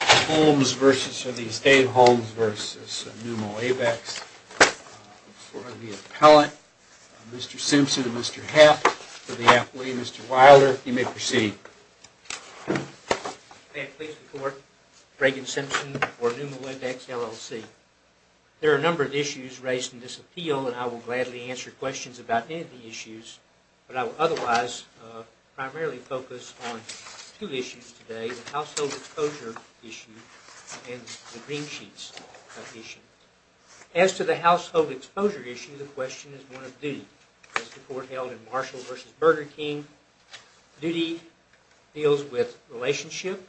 Holmes versus, or the Estate of Holmes versus Pneuma Wavex for the appellate, Mr. Simpson and Mr. Heft for the athlete, Mr. Wilder. You may proceed. May I please report, Reagan Simpson for Pneuma Wavex LLC. There are a number of issues raised in this appeal and I will gladly answer questions about any of the issues, but I will otherwise primarily focus on two issues today, the Household Exposure Issue and the Green Sheets Issue. As to the Household Exposure Issue, the question is one of duty. As the Court held in Marshall v. Burger King, duty deals with relationship,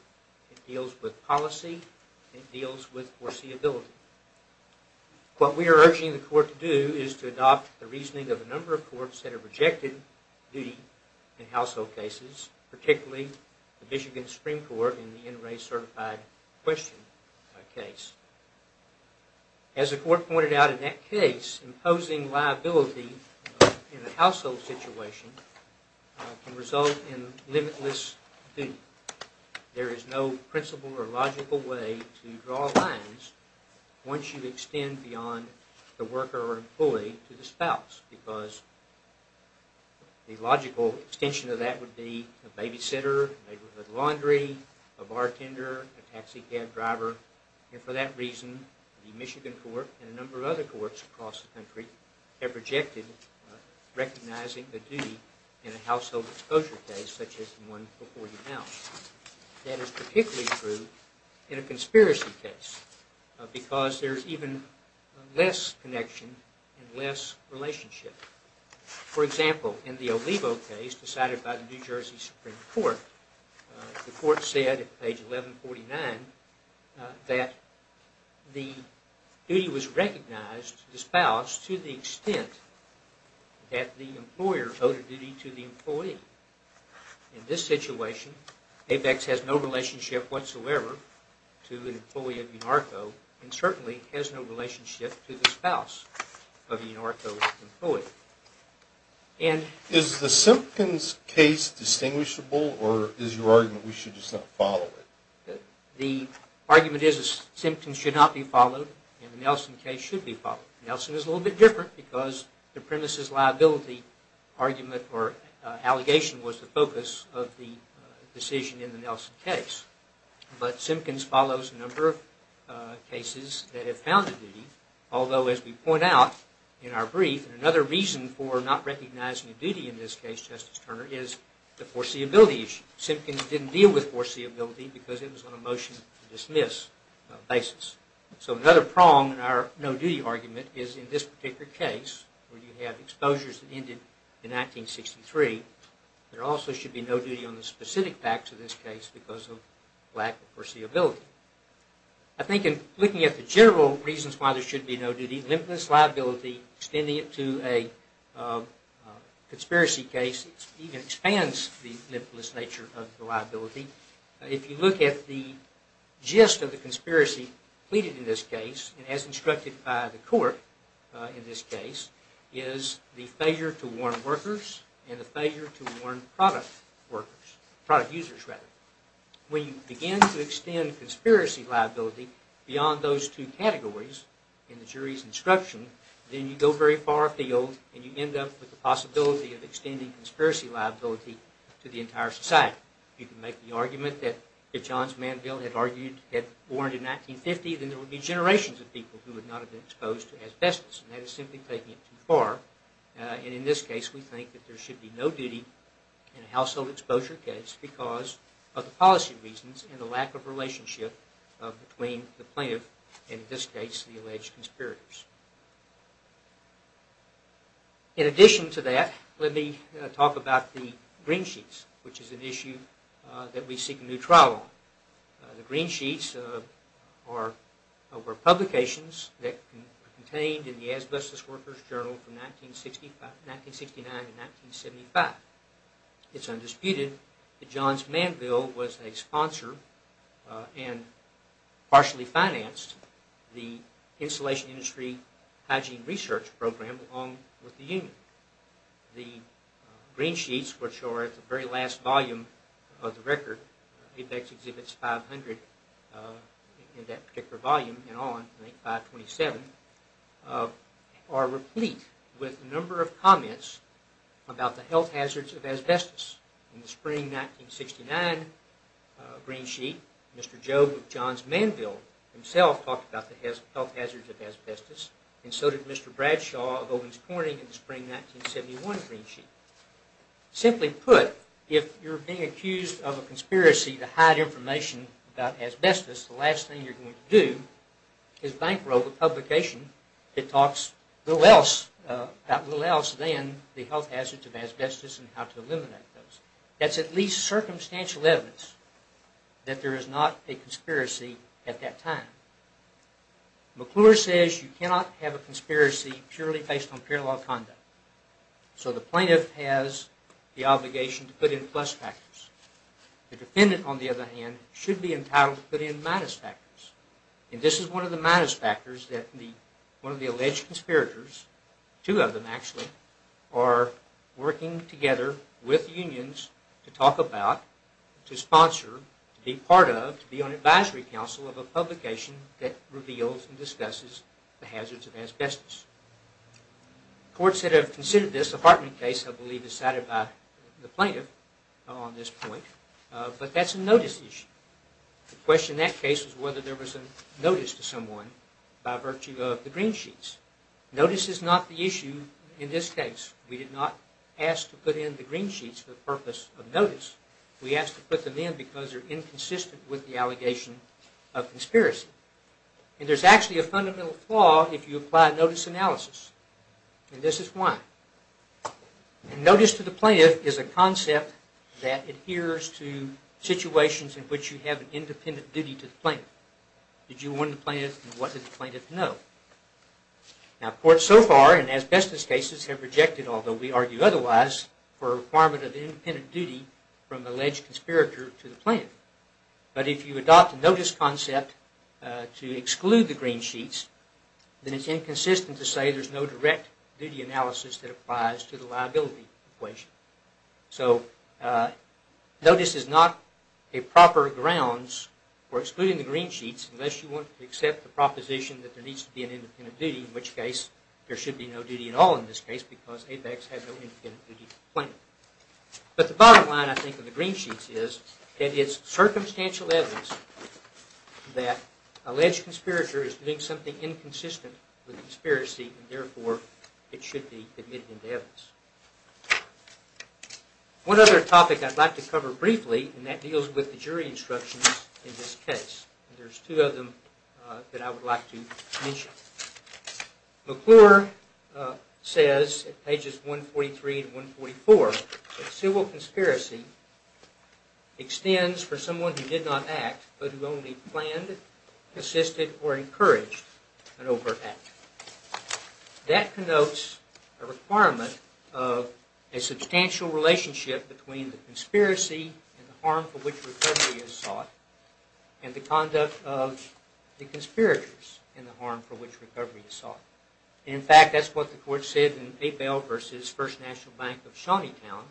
it deals with policy, it deals with foreseeability. What we are urging the Court to do is to adopt the reasoning of a number of courts that have rejected duty in household cases, particularly the Michigan Supreme Court in the NRA Certified Question case. As the Court pointed out in that case, imposing liability in a household situation can result in limitless duty. There is no principle or logical way to draw lines once you extend beyond the worker or employee to the spouse, because the logical extension of that would be a babysitter, a neighborhood laundry, a bartender, a taxi cab driver, and for that reason the Michigan Court and a number of other courts across the country have rejected recognizing the duty in a household exposure case such as the one before you now. That is particularly true in a conspiracy case, because there is even less connection and less relationship. For example, in the Olivo case decided by the New Jersey Supreme Court, the Court said at page 1149 that the duty was recognized to the spouse to the extent that the employer owed a duty to the employee. In this situation, Apex has no relationship whatsoever to an employee of UNARCO and certainly has no relationship to the spouse of the UNARCO employee. Is the Simpkins case distinguishable or is your argument we should just not follow it? The argument is that Simpkins should not be followed and the Nelson case should be followed. Nelson is a little bit different because the premises liability argument or allegation was the focus of the decision in the Nelson case. But Simpkins follows a number of cases that have found a duty, although as we point out in our brief, another reason for not recognizing a duty in this case, Justice Turner, is the foreseeability issue. Simpkins didn't deal with foreseeability because it was on a motion to dismiss basis. So another prong in our no-duty argument is in this particular case, where you have exposures that ended in 1963, there also should be no duty on the specific facts of this case because of lack of foreseeability. I think in looking at the general reasons why there should be no duty, limitless liability, extending it to a conspiracy case, even expands the limitless nature of the liability. If you look at the gist of the conspiracy pleaded in this case, as instructed by the court in this case, is the failure to warn workers and the failure to warn product users. When you begin to extend conspiracy liability beyond those two categories in the jury's instruction, then you go very far afield and you end up with the possibility of extending conspiracy liability to the entire society. You can make the argument that if Johns Manville had argued, had warned in 1950, then there would be generations of people who would not have been exposed to asbestos. And that is simply taking it too far. And in this case, we think that there should be no duty in a household exposure case because of the policy reasons and the lack of relationship between the plaintiff and, in this case, the alleged conspirators. In addition to that, let me talk about the green sheets, which is an issue that we seek a new trial on. The green sheets were publications that contained in the Asbestos Workers Journal from 1969 to 1975. It's undisputed that Johns Manville was a sponsor and partially financed the insulation industry hygiene research program along with the union. The green sheets, which are at the very last volume of the record, Apex exhibits 500 in that particular volume and on, 527, are replete with a number of comments about the health hazards of asbestos. In the spring 1969 green sheet, Mr. Bradshaw of Ovens Corning in the spring 1971 green sheet. Simply put, if you're being accused of a conspiracy to hide information about asbestos, the last thing you're going to do is bankroll the publication that talks a little else than the health hazards of asbestos and how to eliminate those. That's at least circumstantial evidence that there is not a conspiracy at that time. McClure says you cannot have a conspiracy purely based on parallel conduct. So the plaintiff has the obligation to put in plus factors. The defendant, on the other hand, should be entitled to put in minus factors. And this is one of the minus factors that one of the alleged conspirators, two of them actually, are working together with unions to talk about, to sponsor, to be part of, to be on advisory council of a publication that reveals and discusses the hazards of asbestos. Courts that have considered this, the Hartman case, I believe, is cited by the plaintiff on this point, but that's a notice issue. The question in that case was whether there was a notice to someone by virtue of the green sheets. Notice is not the issue in this case. We did not ask to put in the green sheets for the purpose of notice. We asked to put them in because they're inconsistent with the allegation of conspiracy. And there's actually a fundamental flaw if you apply notice analysis, and this is why. Notice to the plaintiff is a concept that adheres to situations in which you have an independent duty to the plaintiff. Did you warn the plaintiff and what did the plaintiff know? Now courts so far in asbestos cases have rejected, although we argue for a requirement of independent duty from the alleged conspirator to the plaintiff. But if you adopt the notice concept to exclude the green sheets, then it's inconsistent to say there's no direct duty analysis that applies to the liability equation. So notice is not a proper grounds for excluding the green sheets unless you want to accept the proposition that there needs to be an independent duty, in which case there should be no duty at all in this case because ABEX has no independent duty to the plaintiff. But the bottom line I think of the green sheets is that it's circumstantial evidence that alleged conspirator is doing something inconsistent with conspiracy and therefore it should be admitted into evidence. One other topic I'd like to cover briefly, and that deals with the jury instructions in this case. There's two of them that I would like to mention. McClure says at pages 143 and 144, civil conspiracy extends for someone who did not act but who only planned, assisted, or encouraged an over-act. That connotes a requirement of a substantial relationship between the conspiracy and the harm for which recovery is sought and the conduct of the conspirators in the harm for which recovery is sought. In fact, that's what the court said in Papel v. First National Bank of Shawneetown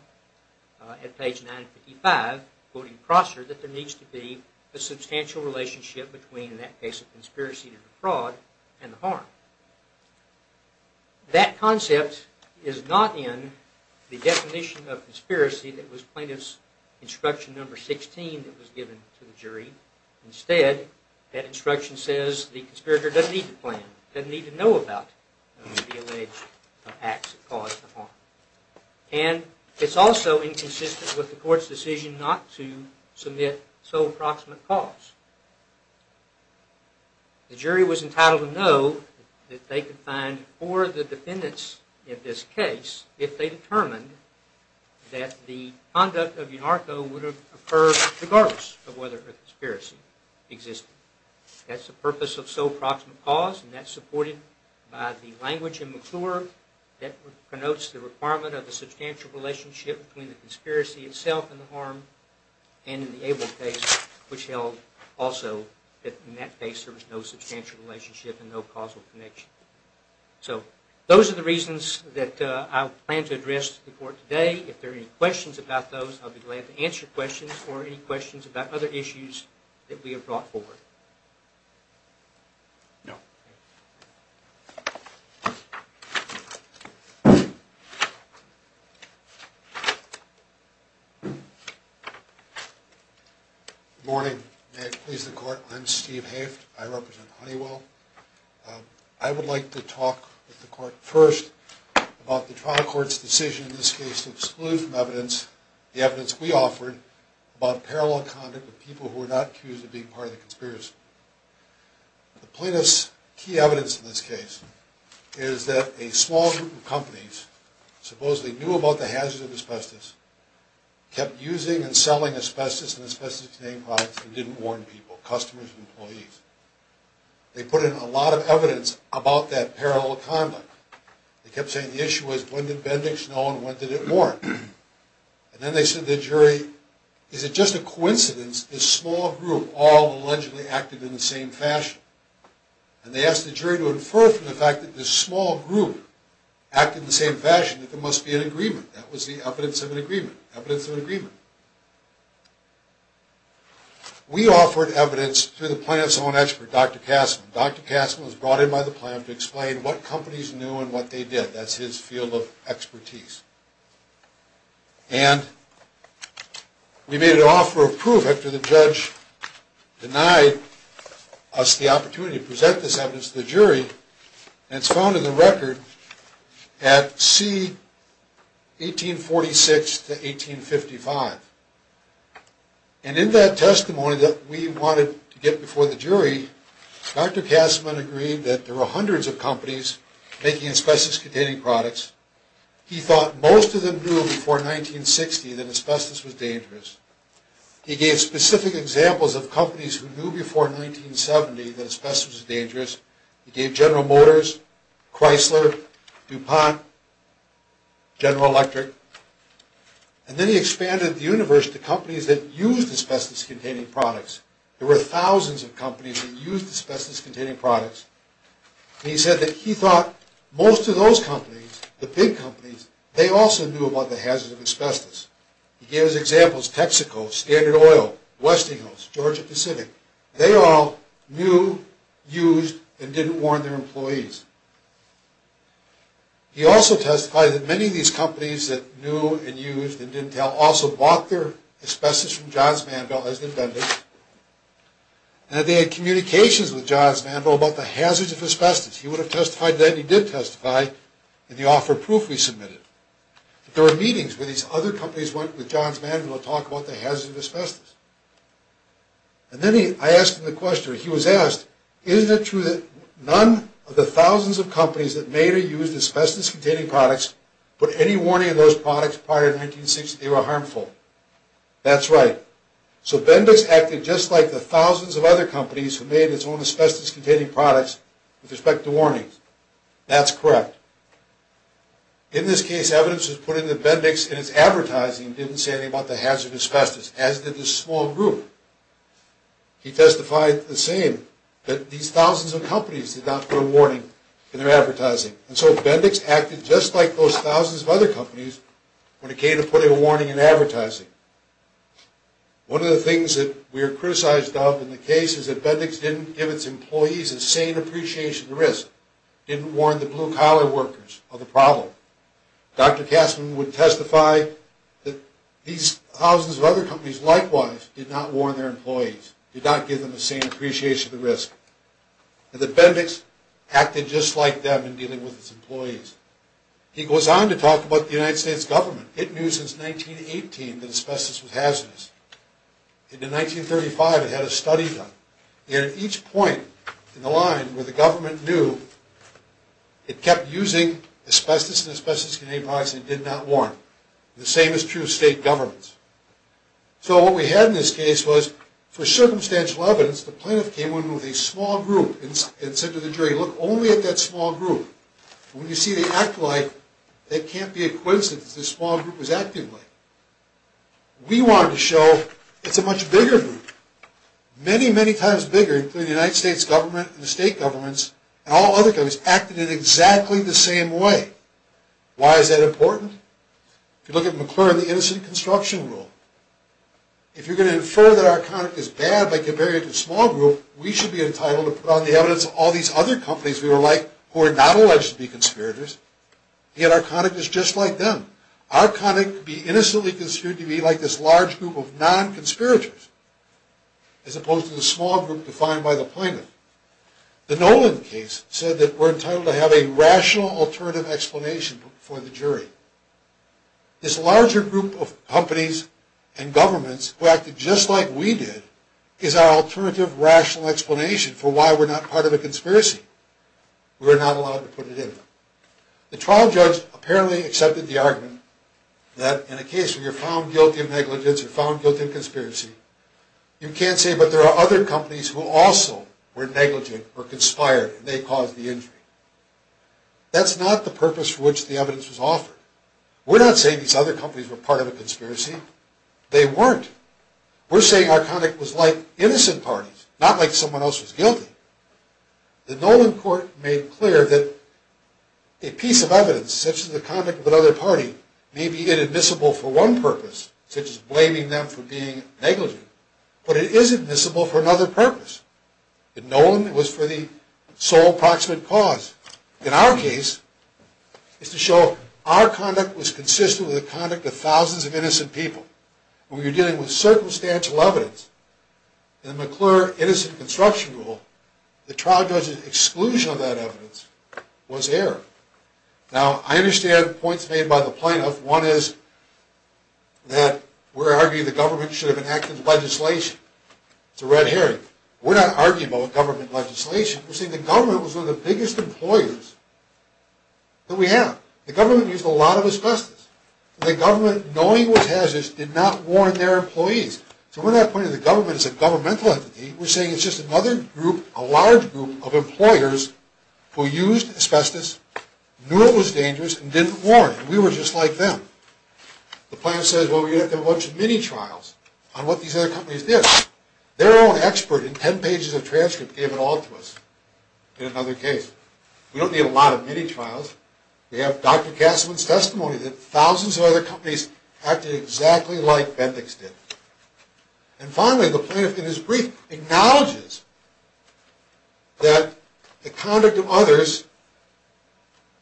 at page 955, quoting Prosser, that there needs to be a substantial relationship between, in that case of conspiracy, the fraud and the harm. That concept is not in the definition of conspiracy that was plaintiff's instruction number 16 that was given to the jury. Instead, that instruction says the conspirator doesn't need to plan, doesn't need to know about the alleged acts that caused the harm. And it's also inconsistent with the court's decision not to submit sole proximate cause. The jury was entitled to know that they could find for the defendants in this case if they determined that the conduct of UNARCO would have occurred regardless of whether a conspiracy existed. That's the purpose of sole proximate cause and that's supported by the language in McClure that connotes the requirement of a substantial relationship between the conspiracy itself and the harm and in the Abel case which held also that in that case there was no substantial relationship and no causal connection. So those are the reasons that I plan to address the court today. If there are any questions about those, I'll be glad to answer questions or any questions about other issues that we have brought forward. Good morning. May it please the court, I'm Steve Haft. I represent Honeywell. I would like to talk with the court first about the trial court's decision in this case to exclude from evidence the evidence we offered about parallel conduct with people who were not accused of being part of the conspiracy. The plaintiff's key evidence in this case is that a small group of companies supposedly knew about the hazards of asbestos, kept using and selling asbestos and asbestos-containing products and didn't warn people, customers and employees. They put in a lot of evidence about that parallel conduct. They kept saying the issue was when did Bendix know and when did it coincidence this small group all allegedly acted in the same fashion. And they asked the jury to infer from the fact that this small group acted in the same fashion that there must be an agreement. That was the evidence of an agreement. Evidence of an agreement. We offered evidence through the plaintiff's own expert, Dr. Kassman. Dr. Kassman was brought in by the plaintiff to explain what companies knew and what they did. That's his field of expertise. And we made an offer of proof after the judge denied us the opportunity to present this evidence to the jury. And it's found in the record at C, 1846 to 1855. And in that testimony that we wanted to get before the jury, Dr. Kassman agreed that there were hundreds of companies making asbestos-containing products. He thought most of them knew before 1960 that asbestos was dangerous. He gave specific examples of companies who knew before 1970 that asbestos was dangerous. He gave General Motors, Chrysler, DuPont, General Electric. And then he expanded the universe to companies that used asbestos-containing products. There were thousands of companies that used asbestos-containing products. He said that he thought most of those companies, the big companies, they also knew about the hazards of asbestos. He gave his examples, Texaco, Standard Oil, Westinghouse, Georgia Pacific. They all knew, used, and didn't warn their employees. He also testified that many of these companies that knew and used and didn't tell also bought their asbestos from Johns Manville as the defendant. And that they had communications with Johns Manville to offer proof he submitted. There were meetings where these other companies went with Johns Manville to talk about the hazards of asbestos. And then I asked him the question, he was asked, isn't it true that none of the thousands of companies that made or used asbestos-containing products put any warning on those products prior to 1960 that they were harmful? That's right. So Bendix acted just like the thousands of other companies who made its own asbestos-containing products with respect to warnings. That's correct. In this case, evidence was put into Bendix and its advertising didn't say anything about the hazards of asbestos, as did this small group. He testified the same, that these thousands of companies did not put a warning in their advertising. And so Bendix acted just like those thousands of other companies when it came to putting a warning in advertising. One of the things that we are criticized of in the case is that Bendix didn't give its employees a sane appreciation of the risk, didn't warn the blue-collar workers of the problem. Dr. Castman would testify that these thousands of other companies likewise did not warn their employees, did not give them a sane appreciation of the risk. And that Bendix acted just like them in dealing with its employees. He goes on to talk about the United States government. It knew since 1918 that asbestos was hazardous. And in 1935 it had a study done. And at each point in the line where the government knew, it kept using asbestos-containing products it did not warn. The same is true of state governments. So what we had in this case was, for circumstantial evidence, the plaintiff came in with a small group and said to the jury, look only at that small group. When you see they act like, that can't be a coincidence that this small group was acting like. We wanted to show it's a much bigger group. Many, many times bigger, including the United States government and the state governments and all other governments acting in exactly the same way. Why is that important? If you look at McClure and the Innocent Construction Rule, if you're going to infer that our should be entitled to put on the evidence of all these other companies we were like, who are not alleged to be conspirators. Yet our conduct is just like them. Our conduct could be innocently considered to be like this large group of non-conspirators, as opposed to the small group defined by the plaintiff. The Nolan case said that we're entitled to have a rational alternative explanation for the jury. This larger group of companies and governments who acted just like we did is our alternative rational explanation for why we're not part of a conspiracy. We were not allowed to put it in. The trial judge apparently accepted the argument that in a case where you're found guilty of negligence or found guilty of conspiracy, you can't say but there are other companies who also were negligent or conspired and they caused the injury. That's not the purpose for which the evidence was offered. We're not saying these other companies were part of a conspiracy. They weren't. We're saying our conduct was like innocent parties, not like someone else was guilty. The Nolan court made clear that a piece of evidence, such as the conduct of another party, may be inadmissible for one purpose, such as blaming them for being negligent, but it is admissible for another purpose. In Nolan, it was for the sole proximate cause. In our case, it's to show our conduct was consistent with the conduct of thousands of innocent people. When you're dealing with circumstantial evidence, in the McClure Innocent Construction Rule, the trial judge's exclusion of that evidence was error. Now, I understand points made by the plaintiff. One is that we're arguing the government should have enacted legislation. It's a red herring. We're not arguing about government legislation. We're saying the government was one of the biggest employers that we have. The government used a lot of asbestos. The government, knowing it was hazardous, did not warn their employees. So we're not pointing to the government as a governmental entity. We're saying it's just another group, a large group, of employers who used asbestos, knew it was dangerous, and didn't warn. We were just like them. The plaintiff says, well, we're going to have to have a bunch of mini-trials on what these other companies did. Their own expert in 10 pages of transcript gave it all to us in another case. We don't need a lot of mini-trials. We have Dr. Casselman's testimony that thousands of other companies acted exactly like Bendix did. And finally, the plaintiff, in his brief, acknowledges that the conduct of others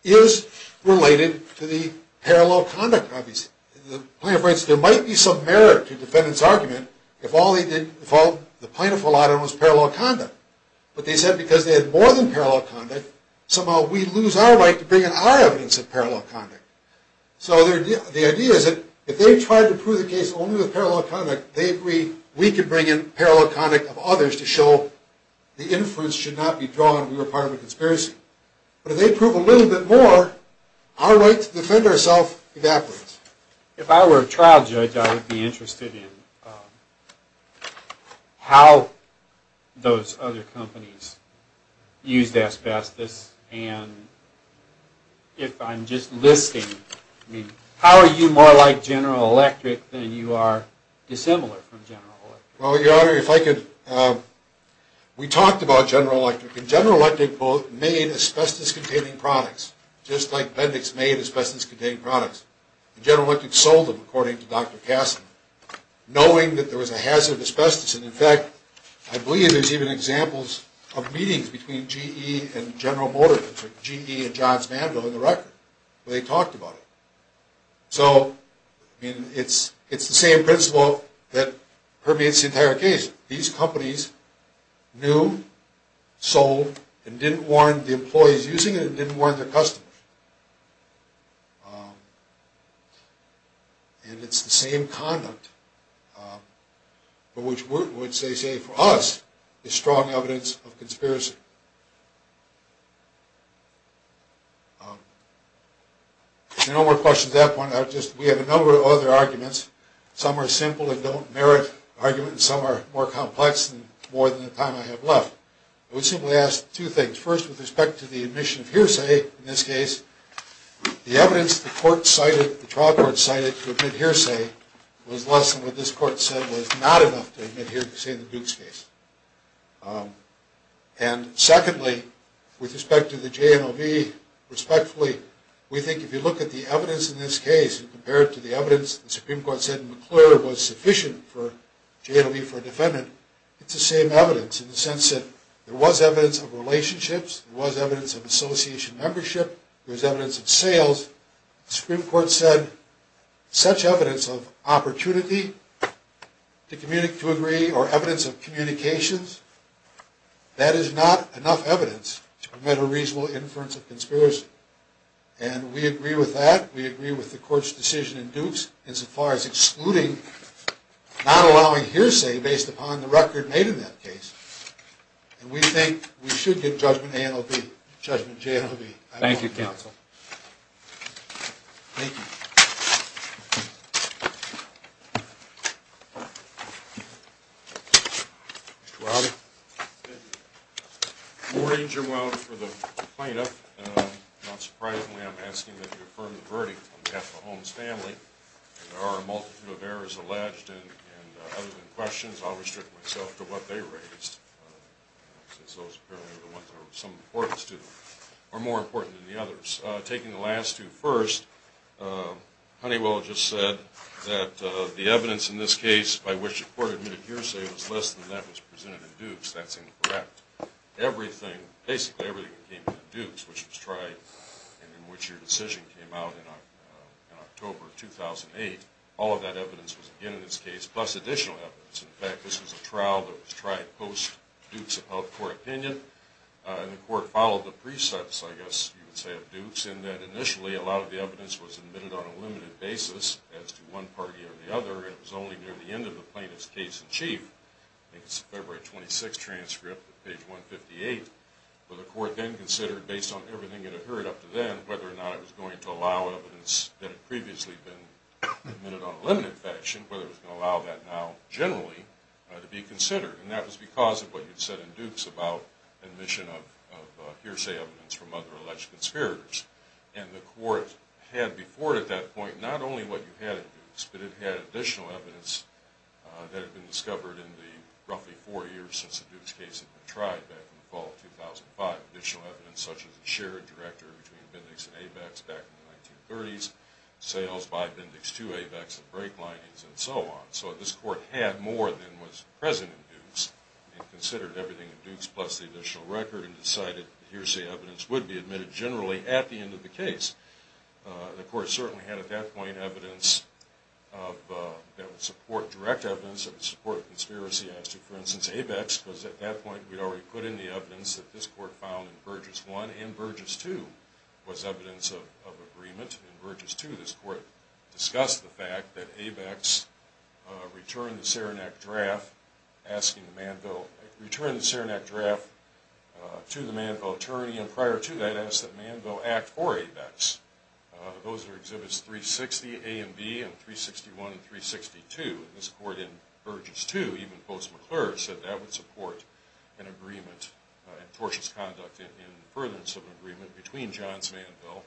is related to the parallel conduct of these companies. The plaintiff writes, there might be some merit to the defendant's argument if all the plaintiff relied on was parallel conduct. But they said because they had more than parallel conduct, somehow we lose our right to bring in our evidence of parallel conduct. So the idea is that if they tried to prove the case only with parallel conduct, they agree we can bring in parallel conduct of others to show the inference should not be drawn. But if they prove a little bit more, our right to defend ourselves evaporates. If I were a trial judge, I would be interested in how those other companies used asbestos, and if I'm just listing, how are you more like General Electric than you are dissimilar from General Electric? We talked about General Electric, and General Electric made asbestos-containing products, just like Bendix made asbestos-containing products. General Electric sold them, according to Dr. Casselman, knowing that there was a hazard of asbestos, and in fact, I believe there's even examples of meetings between GE and General Motors, or GE and Johns Manville in the record, where they talked about it. So it's the same principle that permeates the entire case. These companies knew, sold, and didn't warn the employees using it, and didn't warn their customers. And it's the same conduct, which they say, for us, is strong evidence of conspiracy. If there are no more questions at that point, we have a number of other arguments. Some are simple and don't merit argument, and some are more complex and more than the time I have left. I would simply ask two things. First, with respect to the admission of hearsay in this case, the evidence the trial court cited to admit hearsay was less than what this court said was not enough to admit hearsay in the Dukes case. And secondly, with respect to the JNOV, respectfully, we think if you look at the evidence in this case, and compare it to the evidence the Supreme Court said in McClure was sufficient for JNOV for a defendant, it's the same evidence in the sense that there was evidence of relationships, there was evidence of association membership, there was evidence of sales. The Supreme Court said such evidence of opportunity to agree or evidence of communications, that is not enough evidence to prevent a reasonable inference of conspiracy. And we agree with that. We agree with the court's decision in Dukes as far as excluding, not allowing hearsay based upon the record made in that case. And we think we should give judgment to JNOV. Thank you, counsel. Thank you. Mr. Wiley? Good morning, Jerome, for the plaintiff. Not surprisingly, I'm asking that you affirm the verdict on behalf of the Holmes family. There are a multitude of errors alleged, and other than questions, I'll restrict myself to what they raised, since those apparently are the ones that are of some importance to them, or more important than the others. Taking the last two first, Honeywell just said that the evidence in this case by which the court admitted hearsay was less than that was presented in Dukes. That's incorrect. Everything, basically everything that came to Dukes, which was tried and in which your decision came out in October 2008, all of that evidence was again in this case, plus additional evidence. In fact, this was a trial that was tried post-Dukes of Health Court opinion. And the court followed the precepts, I guess you would say, of Dukes, in that initially a lot of the evidence was admitted on a limited basis as to one party or the other, and it was only near the end of the plaintiff's case in chief. I think it's February 26 transcript, page 158, where the court then considered, based on everything it had heard up to then, whether or not it was going to allow evidence that had previously been admitted on a limited fashion, whether it was going to allow that now generally to be considered. And that was because of what you said in Dukes about admission of hearsay evidence from other alleged conspirators. And the court had before it at that point not only what you had at Dukes, but it had additional evidence that had been discovered in the roughly four years since the Dukes case had been tried back in the fall of 2005. Additional evidence such as the shared director between Bindex and ABEX back in the 1930s, sales by Bindex to ABEX, the brake linings, and so on. So this court had more than was present in Dukes. It considered everything in Dukes plus the additional record and decided hearsay evidence would be admitted generally at the end of the case. The court certainly had at that point evidence that would support direct evidence, that would support conspiracy. I asked you, for instance, ABEX, because at that point we'd already put in the evidence that this court found in Burgess I and Burgess II was evidence of agreement. In Burgess II, this court discussed the fact that ABEX returned the Saranac Draft to the Manville attorney and prior to that asked that Manville act for ABEX. Those were Exhibits 360, A and B, and 361 and 362. This court in Burgess II, even post-McClure, said that would support an agreement and tortious conduct in furtherance of an agreement between Johns Manville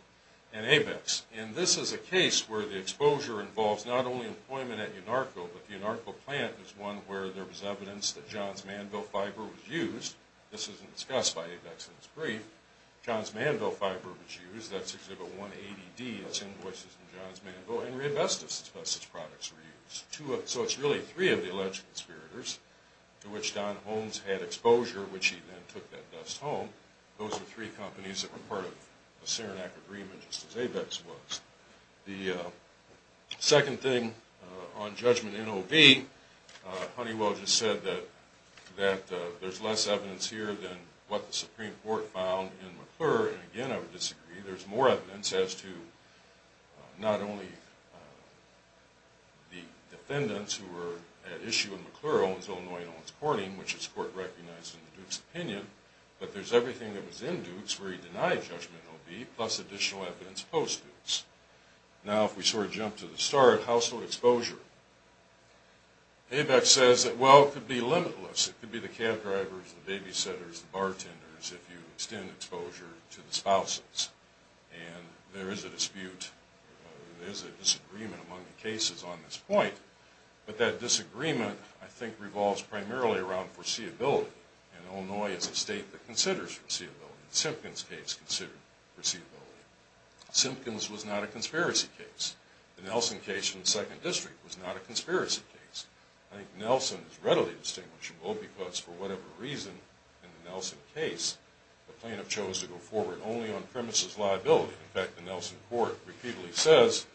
and ABEX. And this is a case where the exposure involves not only employment at UNARCO, but the UNARCO plant is one where there was evidence that Johns Manville fiber was used. This isn't discussed by ABEX in its brief. Johns Manville fiber was used. So it's really three of the alleged conspirators to which Don Holmes had exposure, which he then took that dust home. Those are three companies that were part of the Saranac agreement, just as ABEX was. The second thing on judgment in OB, Honeywell just said that there's less evidence here than what the Supreme Court found in McClure. And again, I would disagree. There's more evidence as to not only the defendants who were at issue in McClure, Owens-Illinois and Owens-Corning, which this court recognized in the Duke's opinion, but there's everything that was in Dukes where he denied judgment in OB, plus additional evidence post-Dukes. Now if we sort of jump to the start, household exposure. ABEX says that, well, it could be limitless. It could be the cab drivers, the babysitters, the bartenders, if you extend exposure to the spouses. And there is a dispute, there is a disagreement among the cases on this point. But that disagreement, I think, revolves primarily around foreseeability. And Illinois is a state that considers foreseeability. The Simpkins case considered foreseeability. Simpkins was not a conspiracy case. The Nelson case in the Second District was not a conspiracy case. I think Nelson is readily distinguishable because, for whatever reason, in the Nelson case, the plaintiff chose to go forward only on premises liability. In fact, the Nelson court repeatedly says,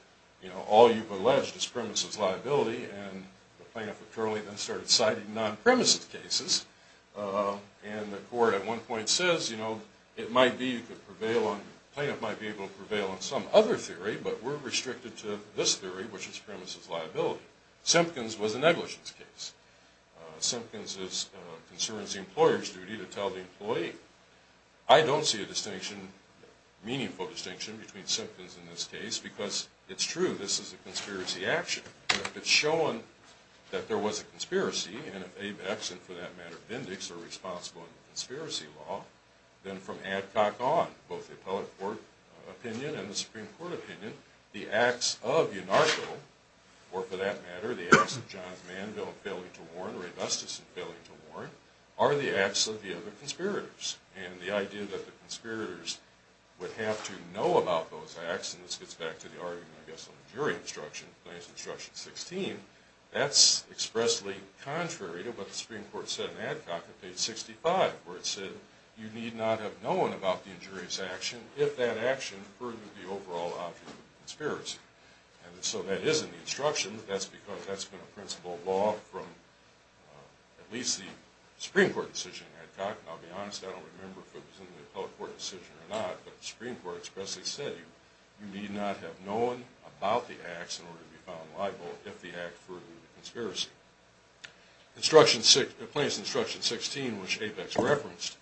you know, all you've alleged is premises liability. And the plaintiff apparently then started citing non-premises cases. And the court at one point says, you know, it might be you could prevail on, the plaintiff might be able to prevail on some other theory, but we're restricted to this theory, which is premises liability. Simpkins was a negligence case. Simpkins concerns the employer's duty to tell the employee. I don't see a distinction, meaningful distinction, between Simpkins and this case because it's true, this is a conspiracy action. If it's shown that there was a conspiracy, and if Avex, and for that matter Bindix, are responsible in the conspiracy law, then from Adcock on, both the appellate court opinion and the Supreme Court opinion, the acts of Unarcho, or for that matter the acts of Johns Manville in failing to warn, or Augustus in failing to warn, are the acts of the other conspirators. And the idea that the conspirators would have to know about those acts, and this gets back to the argument, I guess, on the jury instruction, Plaintiff's Instruction 16, that's expressly contrary to what the Supreme Court said in Adcock at page 65, where it said you need not have known about the injurious action if that action furthered the overall object of the conspiracy. And so that is in the instruction. That's because that's been a principle of law from at least the Supreme Court decision in Adcock, and I'll be honest, I don't remember if it was in the appellate court decision or not, but the Supreme Court expressly said you need not have known about the acts in order to be found liable if the act furthered the conspiracy. Plaintiff's Instruction 16, which Apex referenced,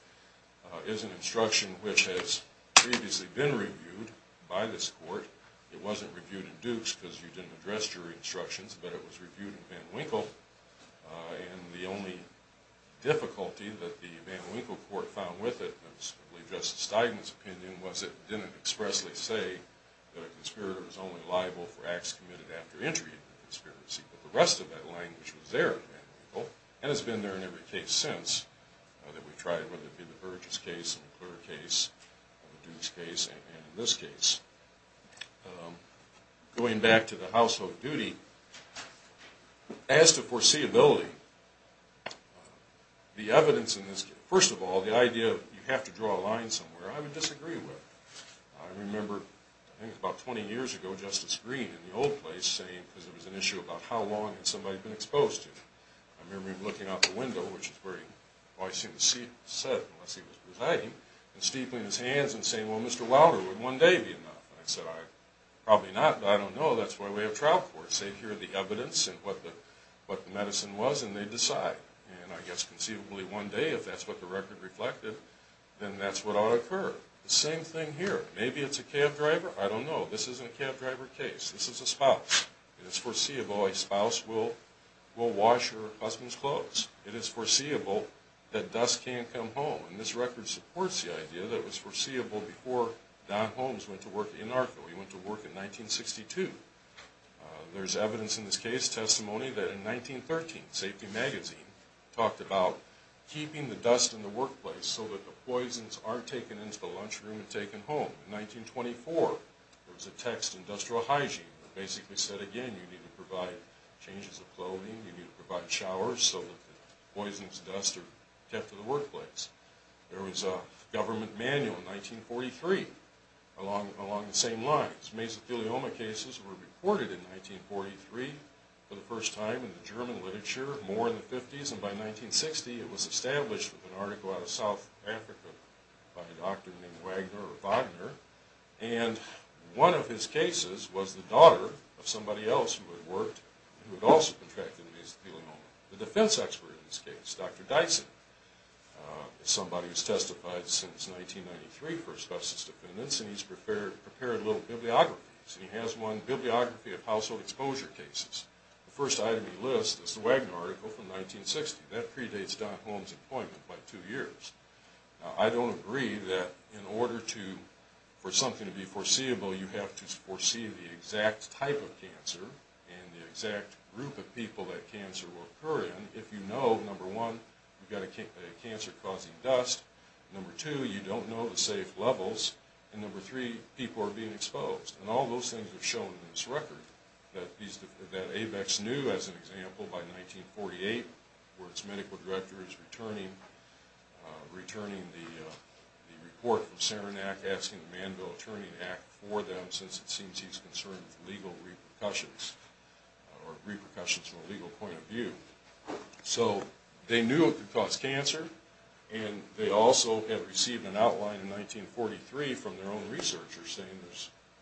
is an instruction which has previously been reviewed by this court. It wasn't reviewed in Dukes because you didn't address jury instructions, but it was reviewed in Van Winkle, and the only difficulty that the Van Winkle court found with it, and it's probably Justice Steigman's opinion, was it didn't expressly say that a conspirator was only liable for acts committed after injury of the conspiracy. But the rest of that language was there in Van Winkle, and it's been there in every case since, whether it be the Burgess case, the McClure case, the Dukes case, and in this case. Going back to the household duty, as to foreseeability, the evidence in this case, first of all, the idea of you have to draw a line somewhere, I would disagree with. I remember, I think about 20 years ago, Justice Green in the old place saying, because there was an issue about how long had somebody been exposed to, I remember him looking out the window, which is where he always seemed to sit unless he was presiding, and steepling his hands and saying, well, Mr. Wouter, would one day be enough? And I said, probably not, but I don't know. That's why we have trial courts. They hear the evidence and what the medicine was, and they decide. And I guess conceivably one day, if that's what the record reflected, then that's what ought to occur. The same thing here. Maybe it's a cab driver. I don't know. This isn't a cab driver case. This is a spouse. It is foreseeable a spouse will wash her husband's clothes. It is foreseeable that dust can't come home. And this record supports the idea that it was foreseeable before Don Holmes went to work in Narco. He went to work in 1962. There's evidence in this case, testimony, that in 1913, Safety Magazine talked about keeping the dust in the workplace so that the poisons aren't taken into the lunchroom and taken home. In 1924, there was a text, Industrial Hygiene, that basically said, again, you need to provide changes of clothing, you need to provide showers, so that the poisons and dust are kept in the workplace. There was a government manual in 1943 along the same lines. Mesothelioma cases were reported in 1943 for the first time in the German literature, more in the 50s, and by 1960 it was established with an article out of South Africa by a doctor named Wagner, or Wagner. And one of his cases was the daughter of somebody else who had worked, who had also contracted mesothelioma. The defense expert in this case, Dr. Dyson, is somebody who's testified since 1993 for a specialist defendants, and he's prepared little bibliographies. He has one, Bibliography of Household Exposure Cases. The first item he lists is the Wagner article from 1960. That predates Don Holmes' appointment by two years. I don't agree that in order for something to be foreseeable, you have to foresee the exact type of cancer, and the exact group of people that cancer will occur in, if you know, number one, you've got a cancer causing dust, number two, you don't know the safe levels, and number three, people are being exposed. And all those things are shown in this record. That AVEX knew, as an example, by 1948, where its medical director is returning the report from Saranac, asking the Manville Attorney to act for them, since it seems he's concerned with legal repercussions, or repercussions from a legal point of view. So they knew it could cause cancer, and they also had received an outline in 1943 from their own researchers, saying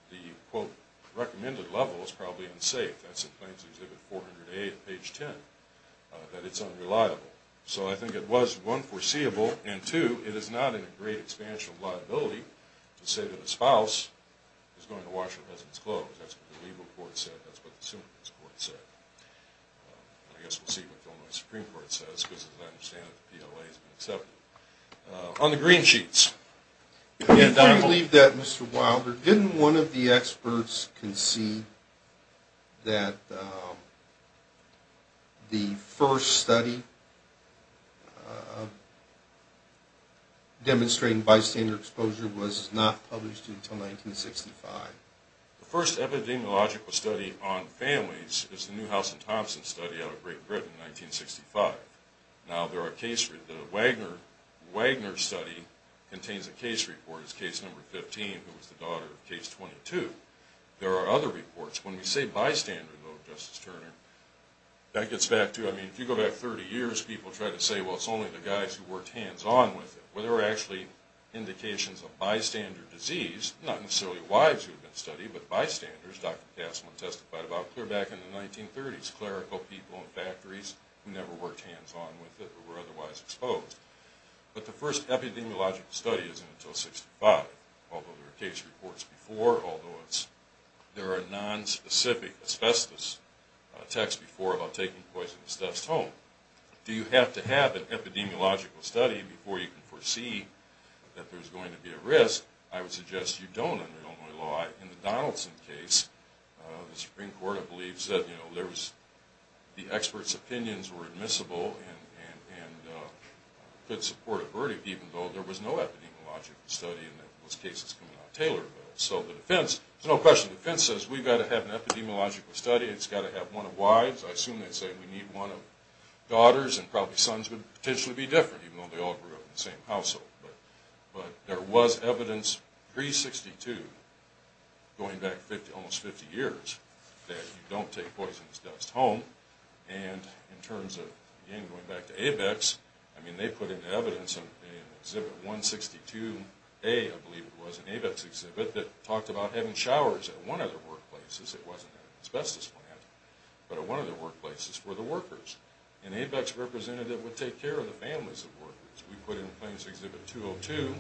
the quote, recommended level is probably unsafe. That's in Plains Exhibit 408, page 10, that it's unreliable. So I think it was, one, foreseeable, and two, it is not in a great expansion of liability to say that a spouse is going to wash a resident's clothes. That's what the legal court said, that's what the Supreme Court said. I guess we'll see what the Illinois Supreme Court says, because as I understand it, the PLA has been accepted. On the green sheets. I don't believe that, Mr. Wilder. Didn't one of the experts concede that the first study demonstrating bystander exposure was not published until 1965? The first epidemiological study on families is the Newhouse and Thompson study out of Great Britain in 1965. Now, the Wagner study contains a case report. It's case number 15, who was the daughter of case 22. There are other reports. When we say bystander, though, Justice Turner, that gets back to, I mean, if you go back 30 years, people try to say, well, it's only the guys who worked hands-on with it. Well, there were actually indications of bystander disease, not necessarily wives who had been studied, but bystanders, Dr. Kasman testified about, clear back in the 1930s, clerical people in factories who never worked hands-on with it or were otherwise exposed. But the first epidemiological study isn't until 1965. Although there are case reports before, although there are nonspecific asbestos texts before about taking poisonous dust home. Do you have to have an epidemiological study before you can foresee that there's going to be a risk? I would suggest you don't, under Illinois law. In the Donaldson case, the Supreme Court, I believe, said the expert's opinions were admissible and could support a verdict, even though there was no epidemiological study in those cases coming out of Taylorville. So the defense, there's no question, the defense says we've got to have an epidemiological study. It's got to have one of wives. I assume they'd say we need one of daughters and probably sons would potentially be different, even though they all grew up in the same household. But there was evidence pre-'62, going back almost 50 years, that you don't take poisonous dust home. And in terms of, again, going back to ABEX, I mean, they put in evidence in Exhibit 162A, I believe it was, an ABEX exhibit, that talked about having showers at one of the workplaces. It wasn't an asbestos plant, but at one of the workplaces for the workers. An ABEX representative would take care of the families of workers. We put it in Plains Exhibit 202,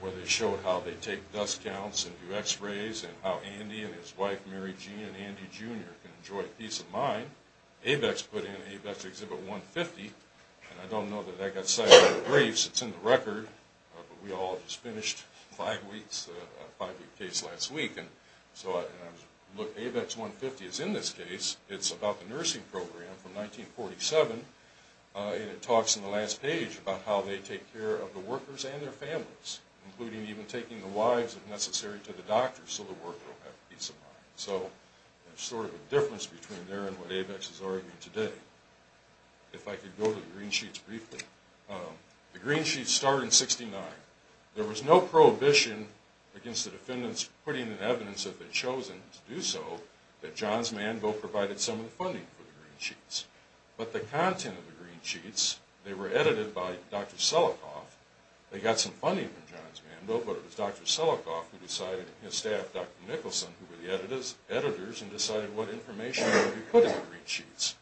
where they showed how they take dust counts and do x-rays and how Andy and his wife Mary Jean and Andy Jr. can enjoy peace of mind. ABEX put in ABEX Exhibit 150, and I don't know that that got cited in the briefs. It's in the record, but we all just finished a five-week case last week. And so, look, ABEX 150 is in this case. It's about the nursing program from 1947, and it talks in the last page about how they take care of the workers and their families, including even taking the wives, if necessary, to the doctors so the worker will have peace of mind. So there's sort of a difference between there and what ABEX is arguing today. If I could go to the green sheets briefly. The green sheets start in 69. There was no prohibition against the defendants putting in evidence if they'd chosen to do so that John's Manville provided some of the funding for the green sheets. But the content of the green sheets, they were edited by Dr. Selikoff. They got some funding from John's Manville, but it was Dr. Selikoff who decided, and his staff, Dr. Nicholson, who were the editors, and decided what information would be put in the green sheets.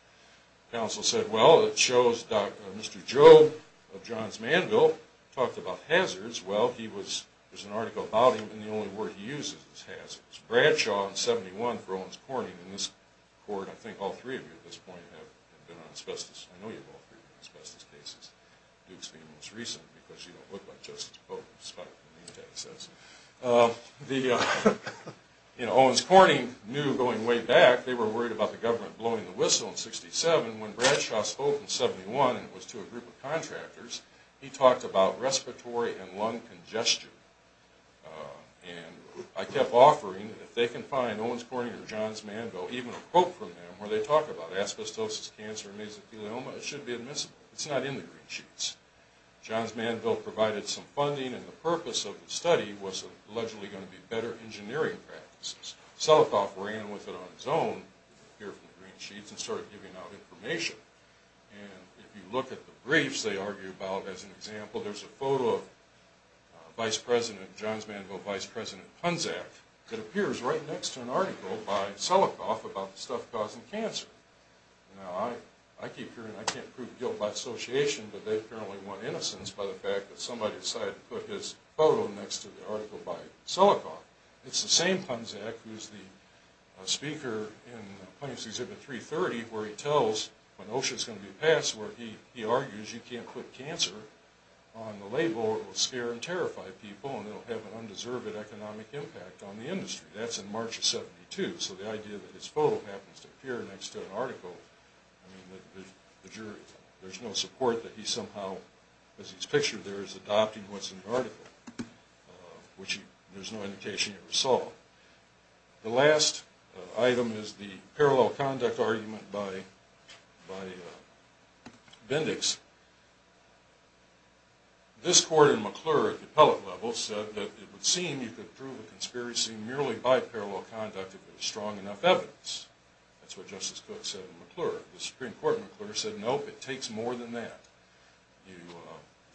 Counsel said, well, it shows Mr. Joe of John's Manville talked about hazards. Well, there's an article about him, and the only word he uses is hazards. Bradshaw in 71 for Owens-Corning in this court, I think all three of you at this point have been on asbestos. I know you've all been on asbestos cases, Dukes being the most recent, because you don't look like Justice Pope, despite what the name tag says. Owens-Corning knew going way back, they were worried about the government blowing the whistle in 67. When Bradshaw spoke in 71, and it was to a group of contractors, he talked about respiratory and lung congestion. And I kept offering, if they can find Owens-Corning or John's Manville, even a quote from them where they talk about asbestosis, cancer, and mesothelioma, it should be admissible. It's not in the green sheets. John's Manville provided some funding, and the purpose of the study was allegedly going to be better engineering practices. Selikoff ran with it on his own, here from the green sheets, and started giving out information. And if you look at the briefs, they argue about, as an example, there's a photo of Vice President, John's Manville Vice President Punzack, that appears right next to an article by Selikoff about the stuff causing cancer. Now, I keep hearing, I can't prove guilt by association, but they apparently want innocence by the fact that somebody decided to put his photo next to the article by Selikoff. It's the same Punzack who's the speaker in Punishers Exhibit 330, where he tells, when OSHA's going to be passed, where he argues you can't put cancer on the label, it will scare and terrify people, and it will have an undeserved economic impact on the industry. That's in March of 72. So the idea that his photo happens to appear next to an article, I mean, the jury, there's no support that he somehow, as he's pictured there, is adopting what's in the article, which there's no indication he ever saw. The last item is the parallel conduct argument by Bendix. This court in McClure, at the appellate level, said that it would seem you could prove a conspiracy merely by parallel conduct if there was strong enough evidence. That's what Justice Cook said in McClure. The Supreme Court in McClure said, nope, it takes more than that. It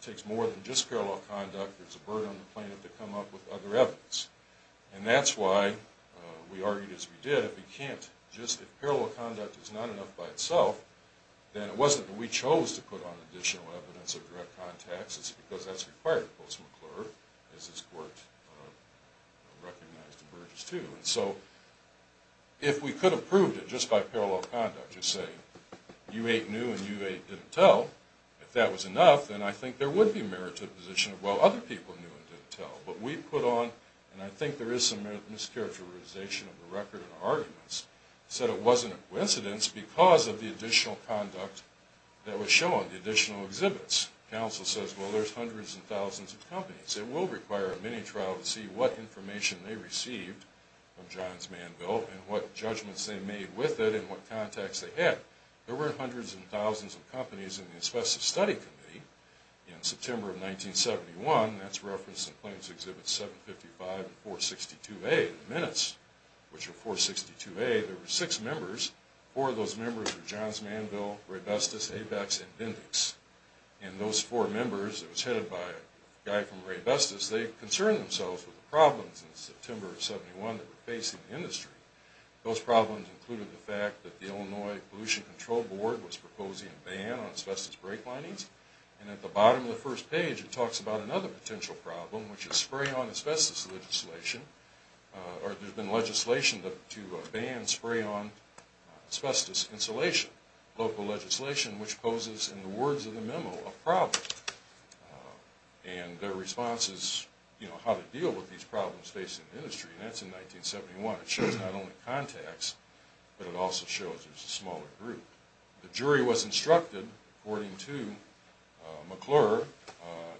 takes more than just parallel conduct. There's a burden on the plaintiff to come up with other evidence. And that's why we argued as we did, if parallel conduct is not enough by itself, then it wasn't that we chose to put on additional evidence or direct contacts, it's because that's required of Post McClure, as this court recognized in Burgess too. So if we could have proved it just by parallel conduct, just say you eight knew and you eight didn't tell, if that was enough, then I think there would be a merited position of, well, other people knew and didn't tell. But we put on, and I think there is some mischaracterization of the record in our arguments, said it wasn't a coincidence because of the additional conduct that was shown, the additional exhibits. Counsel says, well, there's hundreds and thousands of companies. It will require a mini-trial to see what information they received from Johns Manville and what judgments they made with it and what contacts they had. There were hundreds and thousands of companies in the Inspective Study Committee in September of 1971. That's referenced in Claims Exhibits 755 and 462A, the minutes, which are 462A. There were six members. Four of those members were Johns Manville, Raybestos, Avex, and Bindix. And those four members, it was headed by a guy from Raybestos, they concerned themselves with the problems in September of 1971 that were facing the industry. Those problems included the fact that the Illinois Pollution Control Board was proposing a ban on asbestos brake linings. And at the bottom of the first page, it talks about another potential problem, which is spray-on asbestos legislation. There's been legislation to ban spray-on asbestos insulation, local legislation, which poses, in the words of the memo, a problem. And their response is, you know, how to deal with these problems facing the industry. And that's in 1971. It shows not only contacts, but it also shows there's a smaller group. The jury was instructed, according to McClure,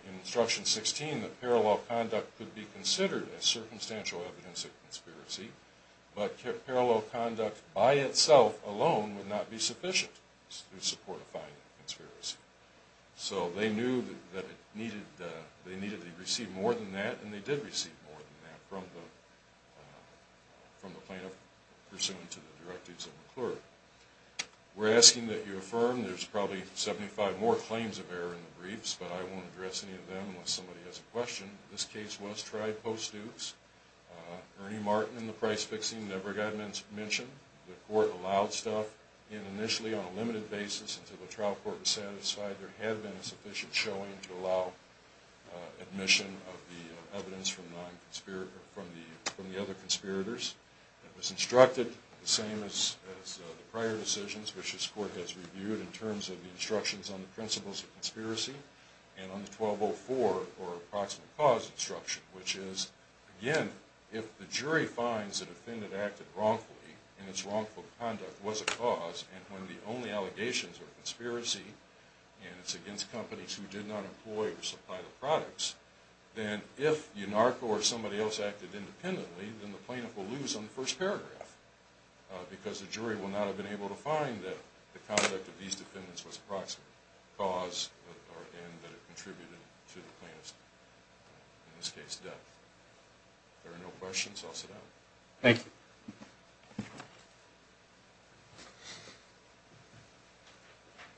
in Instruction 16, that parallel conduct could be considered as circumstantial evidence of conspiracy, but parallel conduct by itself alone would not be sufficient in support of finding a conspiracy. So they knew that they needed to receive more than that, and they did receive more than that from the plaintiff, pursuant to the directives of McClure. We're asking that you affirm there's probably 75 more claims of error in the briefs, but I won't address any of them unless somebody has a question. This case was tried post-duce. Ernie Martin and the price-fixing never got mentioned. The court allowed stuff in initially on a limited basis until the trial court was satisfied there had been sufficient showing to allow admission of the evidence from the other conspirators. It was instructed, the same as the prior decisions, which this court has reviewed, in terms of the instructions on the principles of conspiracy and on the 1204, or Approximate Cause Instruction, if the jury finds that a defendant acted wrongfully and its wrongful conduct was a cause and when the only allegations are conspiracy and it's against companies who did not employ or supply the products, then if Ynarko or somebody else acted independently, then the plaintiff will lose on the first paragraph because the jury will not have been able to find that the conduct of these defendants was approximate cause and that it contributed to the plaintiff's, in this case, death. If there are no questions, I'll sit down. Thank you.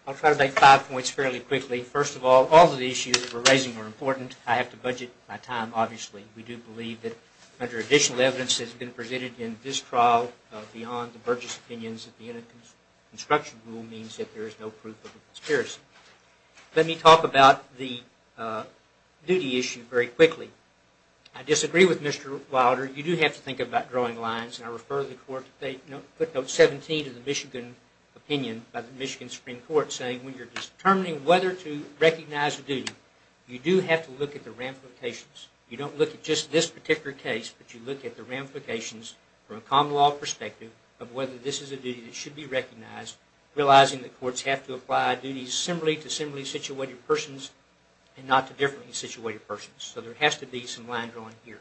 I'll try to make five points fairly quickly. First of all, all of the issues that we're raising are important. I have to budget my time, obviously. We do believe that under additional evidence that has been presented in this trial beyond the Burgess opinions that the Innocence Construction Rule means that there is no proof of a conspiracy. Let me talk about the duty issue very quickly. I disagree with Mr. Wilder. You do have to think about drawing lines and I refer the court to footnote 17 of the Michigan opinion by the Michigan Supreme Court saying when you're determining whether to recognize a duty, you do have to look at the ramifications. You don't look at just this particular case, but you look at the ramifications from a common law perspective of whether this is a duty that should be recognized, realizing that courts have to apply duties similarly to similarly situated persons and not to differently situated persons. So there has to be some line drawing here.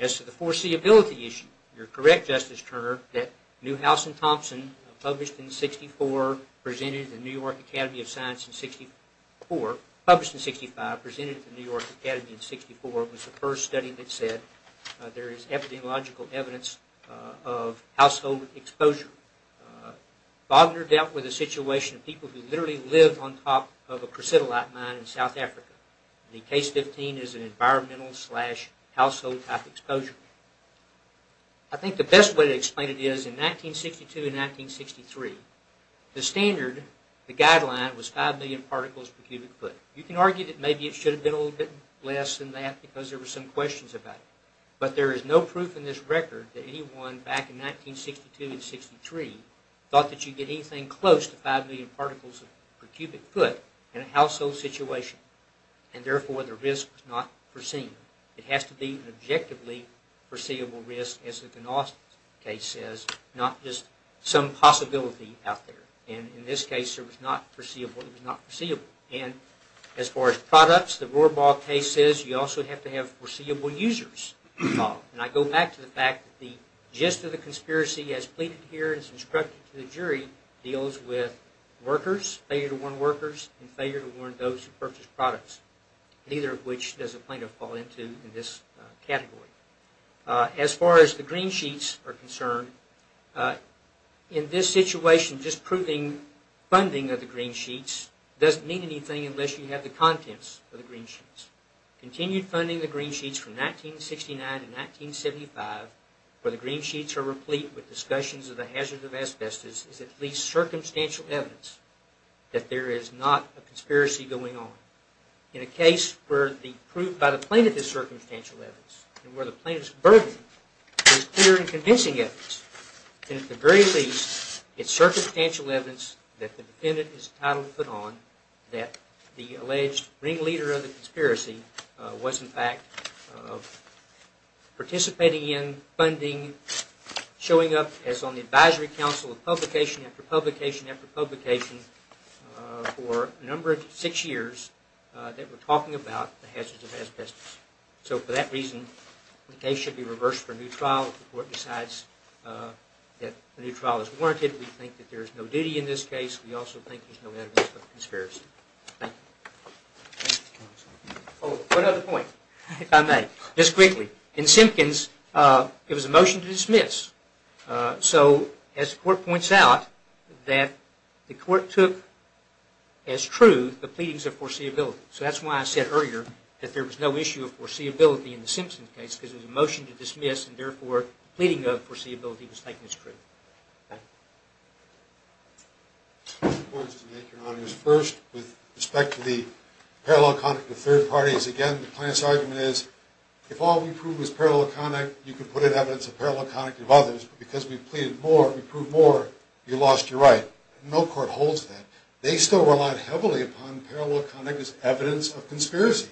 As to the foreseeability issue, you're correct, Justice Turner, that Newhouse and Thompson published in 64, presented at the New York Academy of Science in 64, published in 65, presented at the New York Academy in 64, was the first study that said there is epidemiological evidence of household exposure. Wagner dealt with a situation of people who literally lived on top of a presidolite mine in South Africa. The case 15 is an environmental slash household type exposure. I think the best way to explain it is in 1962 and 1963, the standard, the guideline, was 5 million particles per cubic foot. You can argue that maybe it should have been a little bit less than that because there were some questions about it. But there is no proof in this record that anyone back in 1962 and 63 thought that you'd get anything close to 5 million particles per cubic foot in a household situation and therefore the risk was not foreseen. It has to be an objectively foreseeable risk as the Knost case says, not just some possibility out there. In this case it was not foreseeable. As far as products, the Rohrbaugh case says you also have to have foreseeable users involved. I go back to the fact that the gist of the conspiracy as pleaded here and as instructed to the jury deals with workers, failure to warn workers, and failure to warn those who purchase products, neither of which does a plaintiff fall into in this category. As far as the green sheets are concerned, in this situation just proving funding of the green sheets doesn't mean anything unless you have the contents of the green sheets. Continued funding of the green sheets from 1969 to 1975 where the green sheets are replete with discussions of the hazards of asbestos is at least circumstantial evidence that there is not a conspiracy going on. In a case where the proof by the plaintiff is circumstantial evidence and where the plaintiff's burden is clear and convincing evidence then at the very least it's circumstantial evidence that the defendant is entitled to put on that the alleged ringleader of the conspiracy was in fact participating in funding, showing up as on the advisory council of publication after publication after publication for a number of six years that were talking about the hazards of asbestos. So for that reason the case should be reversed for a new trial if the court decides that the new trial is warranted. We think that there is no duty in this case. We also think there is no evidence of conspiracy. Thank you. One other point if I may just quickly. In Simpkins it was a motion to dismiss. So as the motion was issue of foreseeability. So that's why I said earlier that there was no issue of foreseeability in the Simpkins case because it was a motion to dismiss and therefore pleading of foreseeability was taken as true. First with respect to the parallel conduct of third parties again the plaintiff's argument is if all we prove is parallel conduct you can put in evidence of parallel conduct of others but because we've pleaded more we proved more you lost your right. No court holds that. They still rely heavily on parallel conduct as evidence of conspiracy.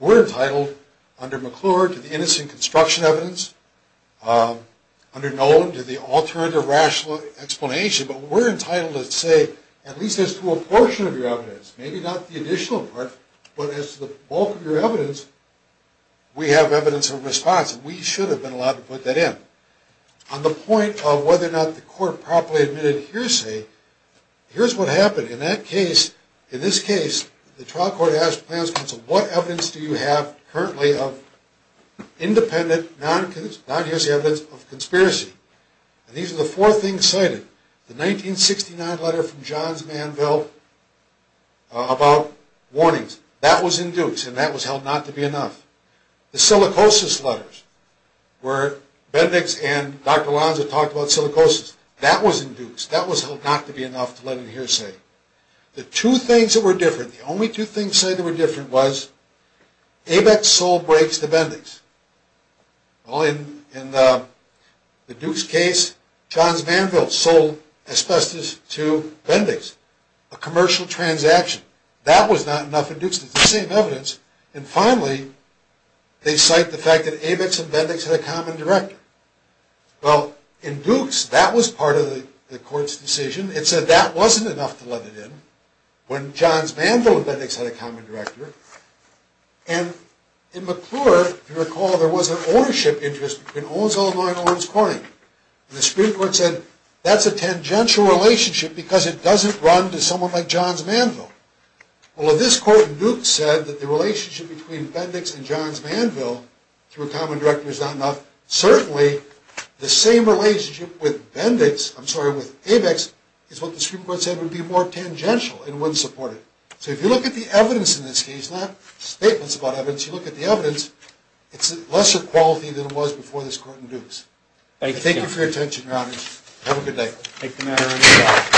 We're entitled under McClure to the innocent construction evidence, under Nolan to the innocent construction evidence. We should have been allowed to put that in. On the point of whether or not the court properly admitted hearsay here's what happened. In this case the trial court asked what evidence do you have currently of independent non-hearsay evidence of conspiracy. These are four things cited. The 1969 letter from Johns Manville about warnings that was in Dukes and that was held not to be enough. The silicosis letters where Bendix and Dr. Lanza talked about silicosis that was in Dukes that was held not to be enough to let in hearsay. The two things that were different the only two things that were different was ABEX sold breaks to Bendix. In the Dukes case Johns Manville sold asbestos to Bendix. A commercial transaction. That was not enough in Dukes. It's the same evidence. And finally they cite the fact that ABEX and Bendix had a common director. Well in Dukes that was part of the court's decision. It said that wasn't enough to let it in when Johns Manville and Bendix had a common director. And in McClure if you recall there was an ownership interest between Owens Illinois and Owens Corning. The Supreme Court said that's a tangential relationship because it doesn't run to someone like Johns Manville. Well in this court in Dukes it said that the relationship between Bendix and Johns Manville through a common director is not enough. Certainly the same relationship with ABEX is what the Supreme Court said would be more tangential and wouldn't support it. So if you look at the evidence in this case, not statements about evidence, you look at the evidence and it's lesser quality than it was before this court in Dukes. Thank you for your attention your honors. Have a good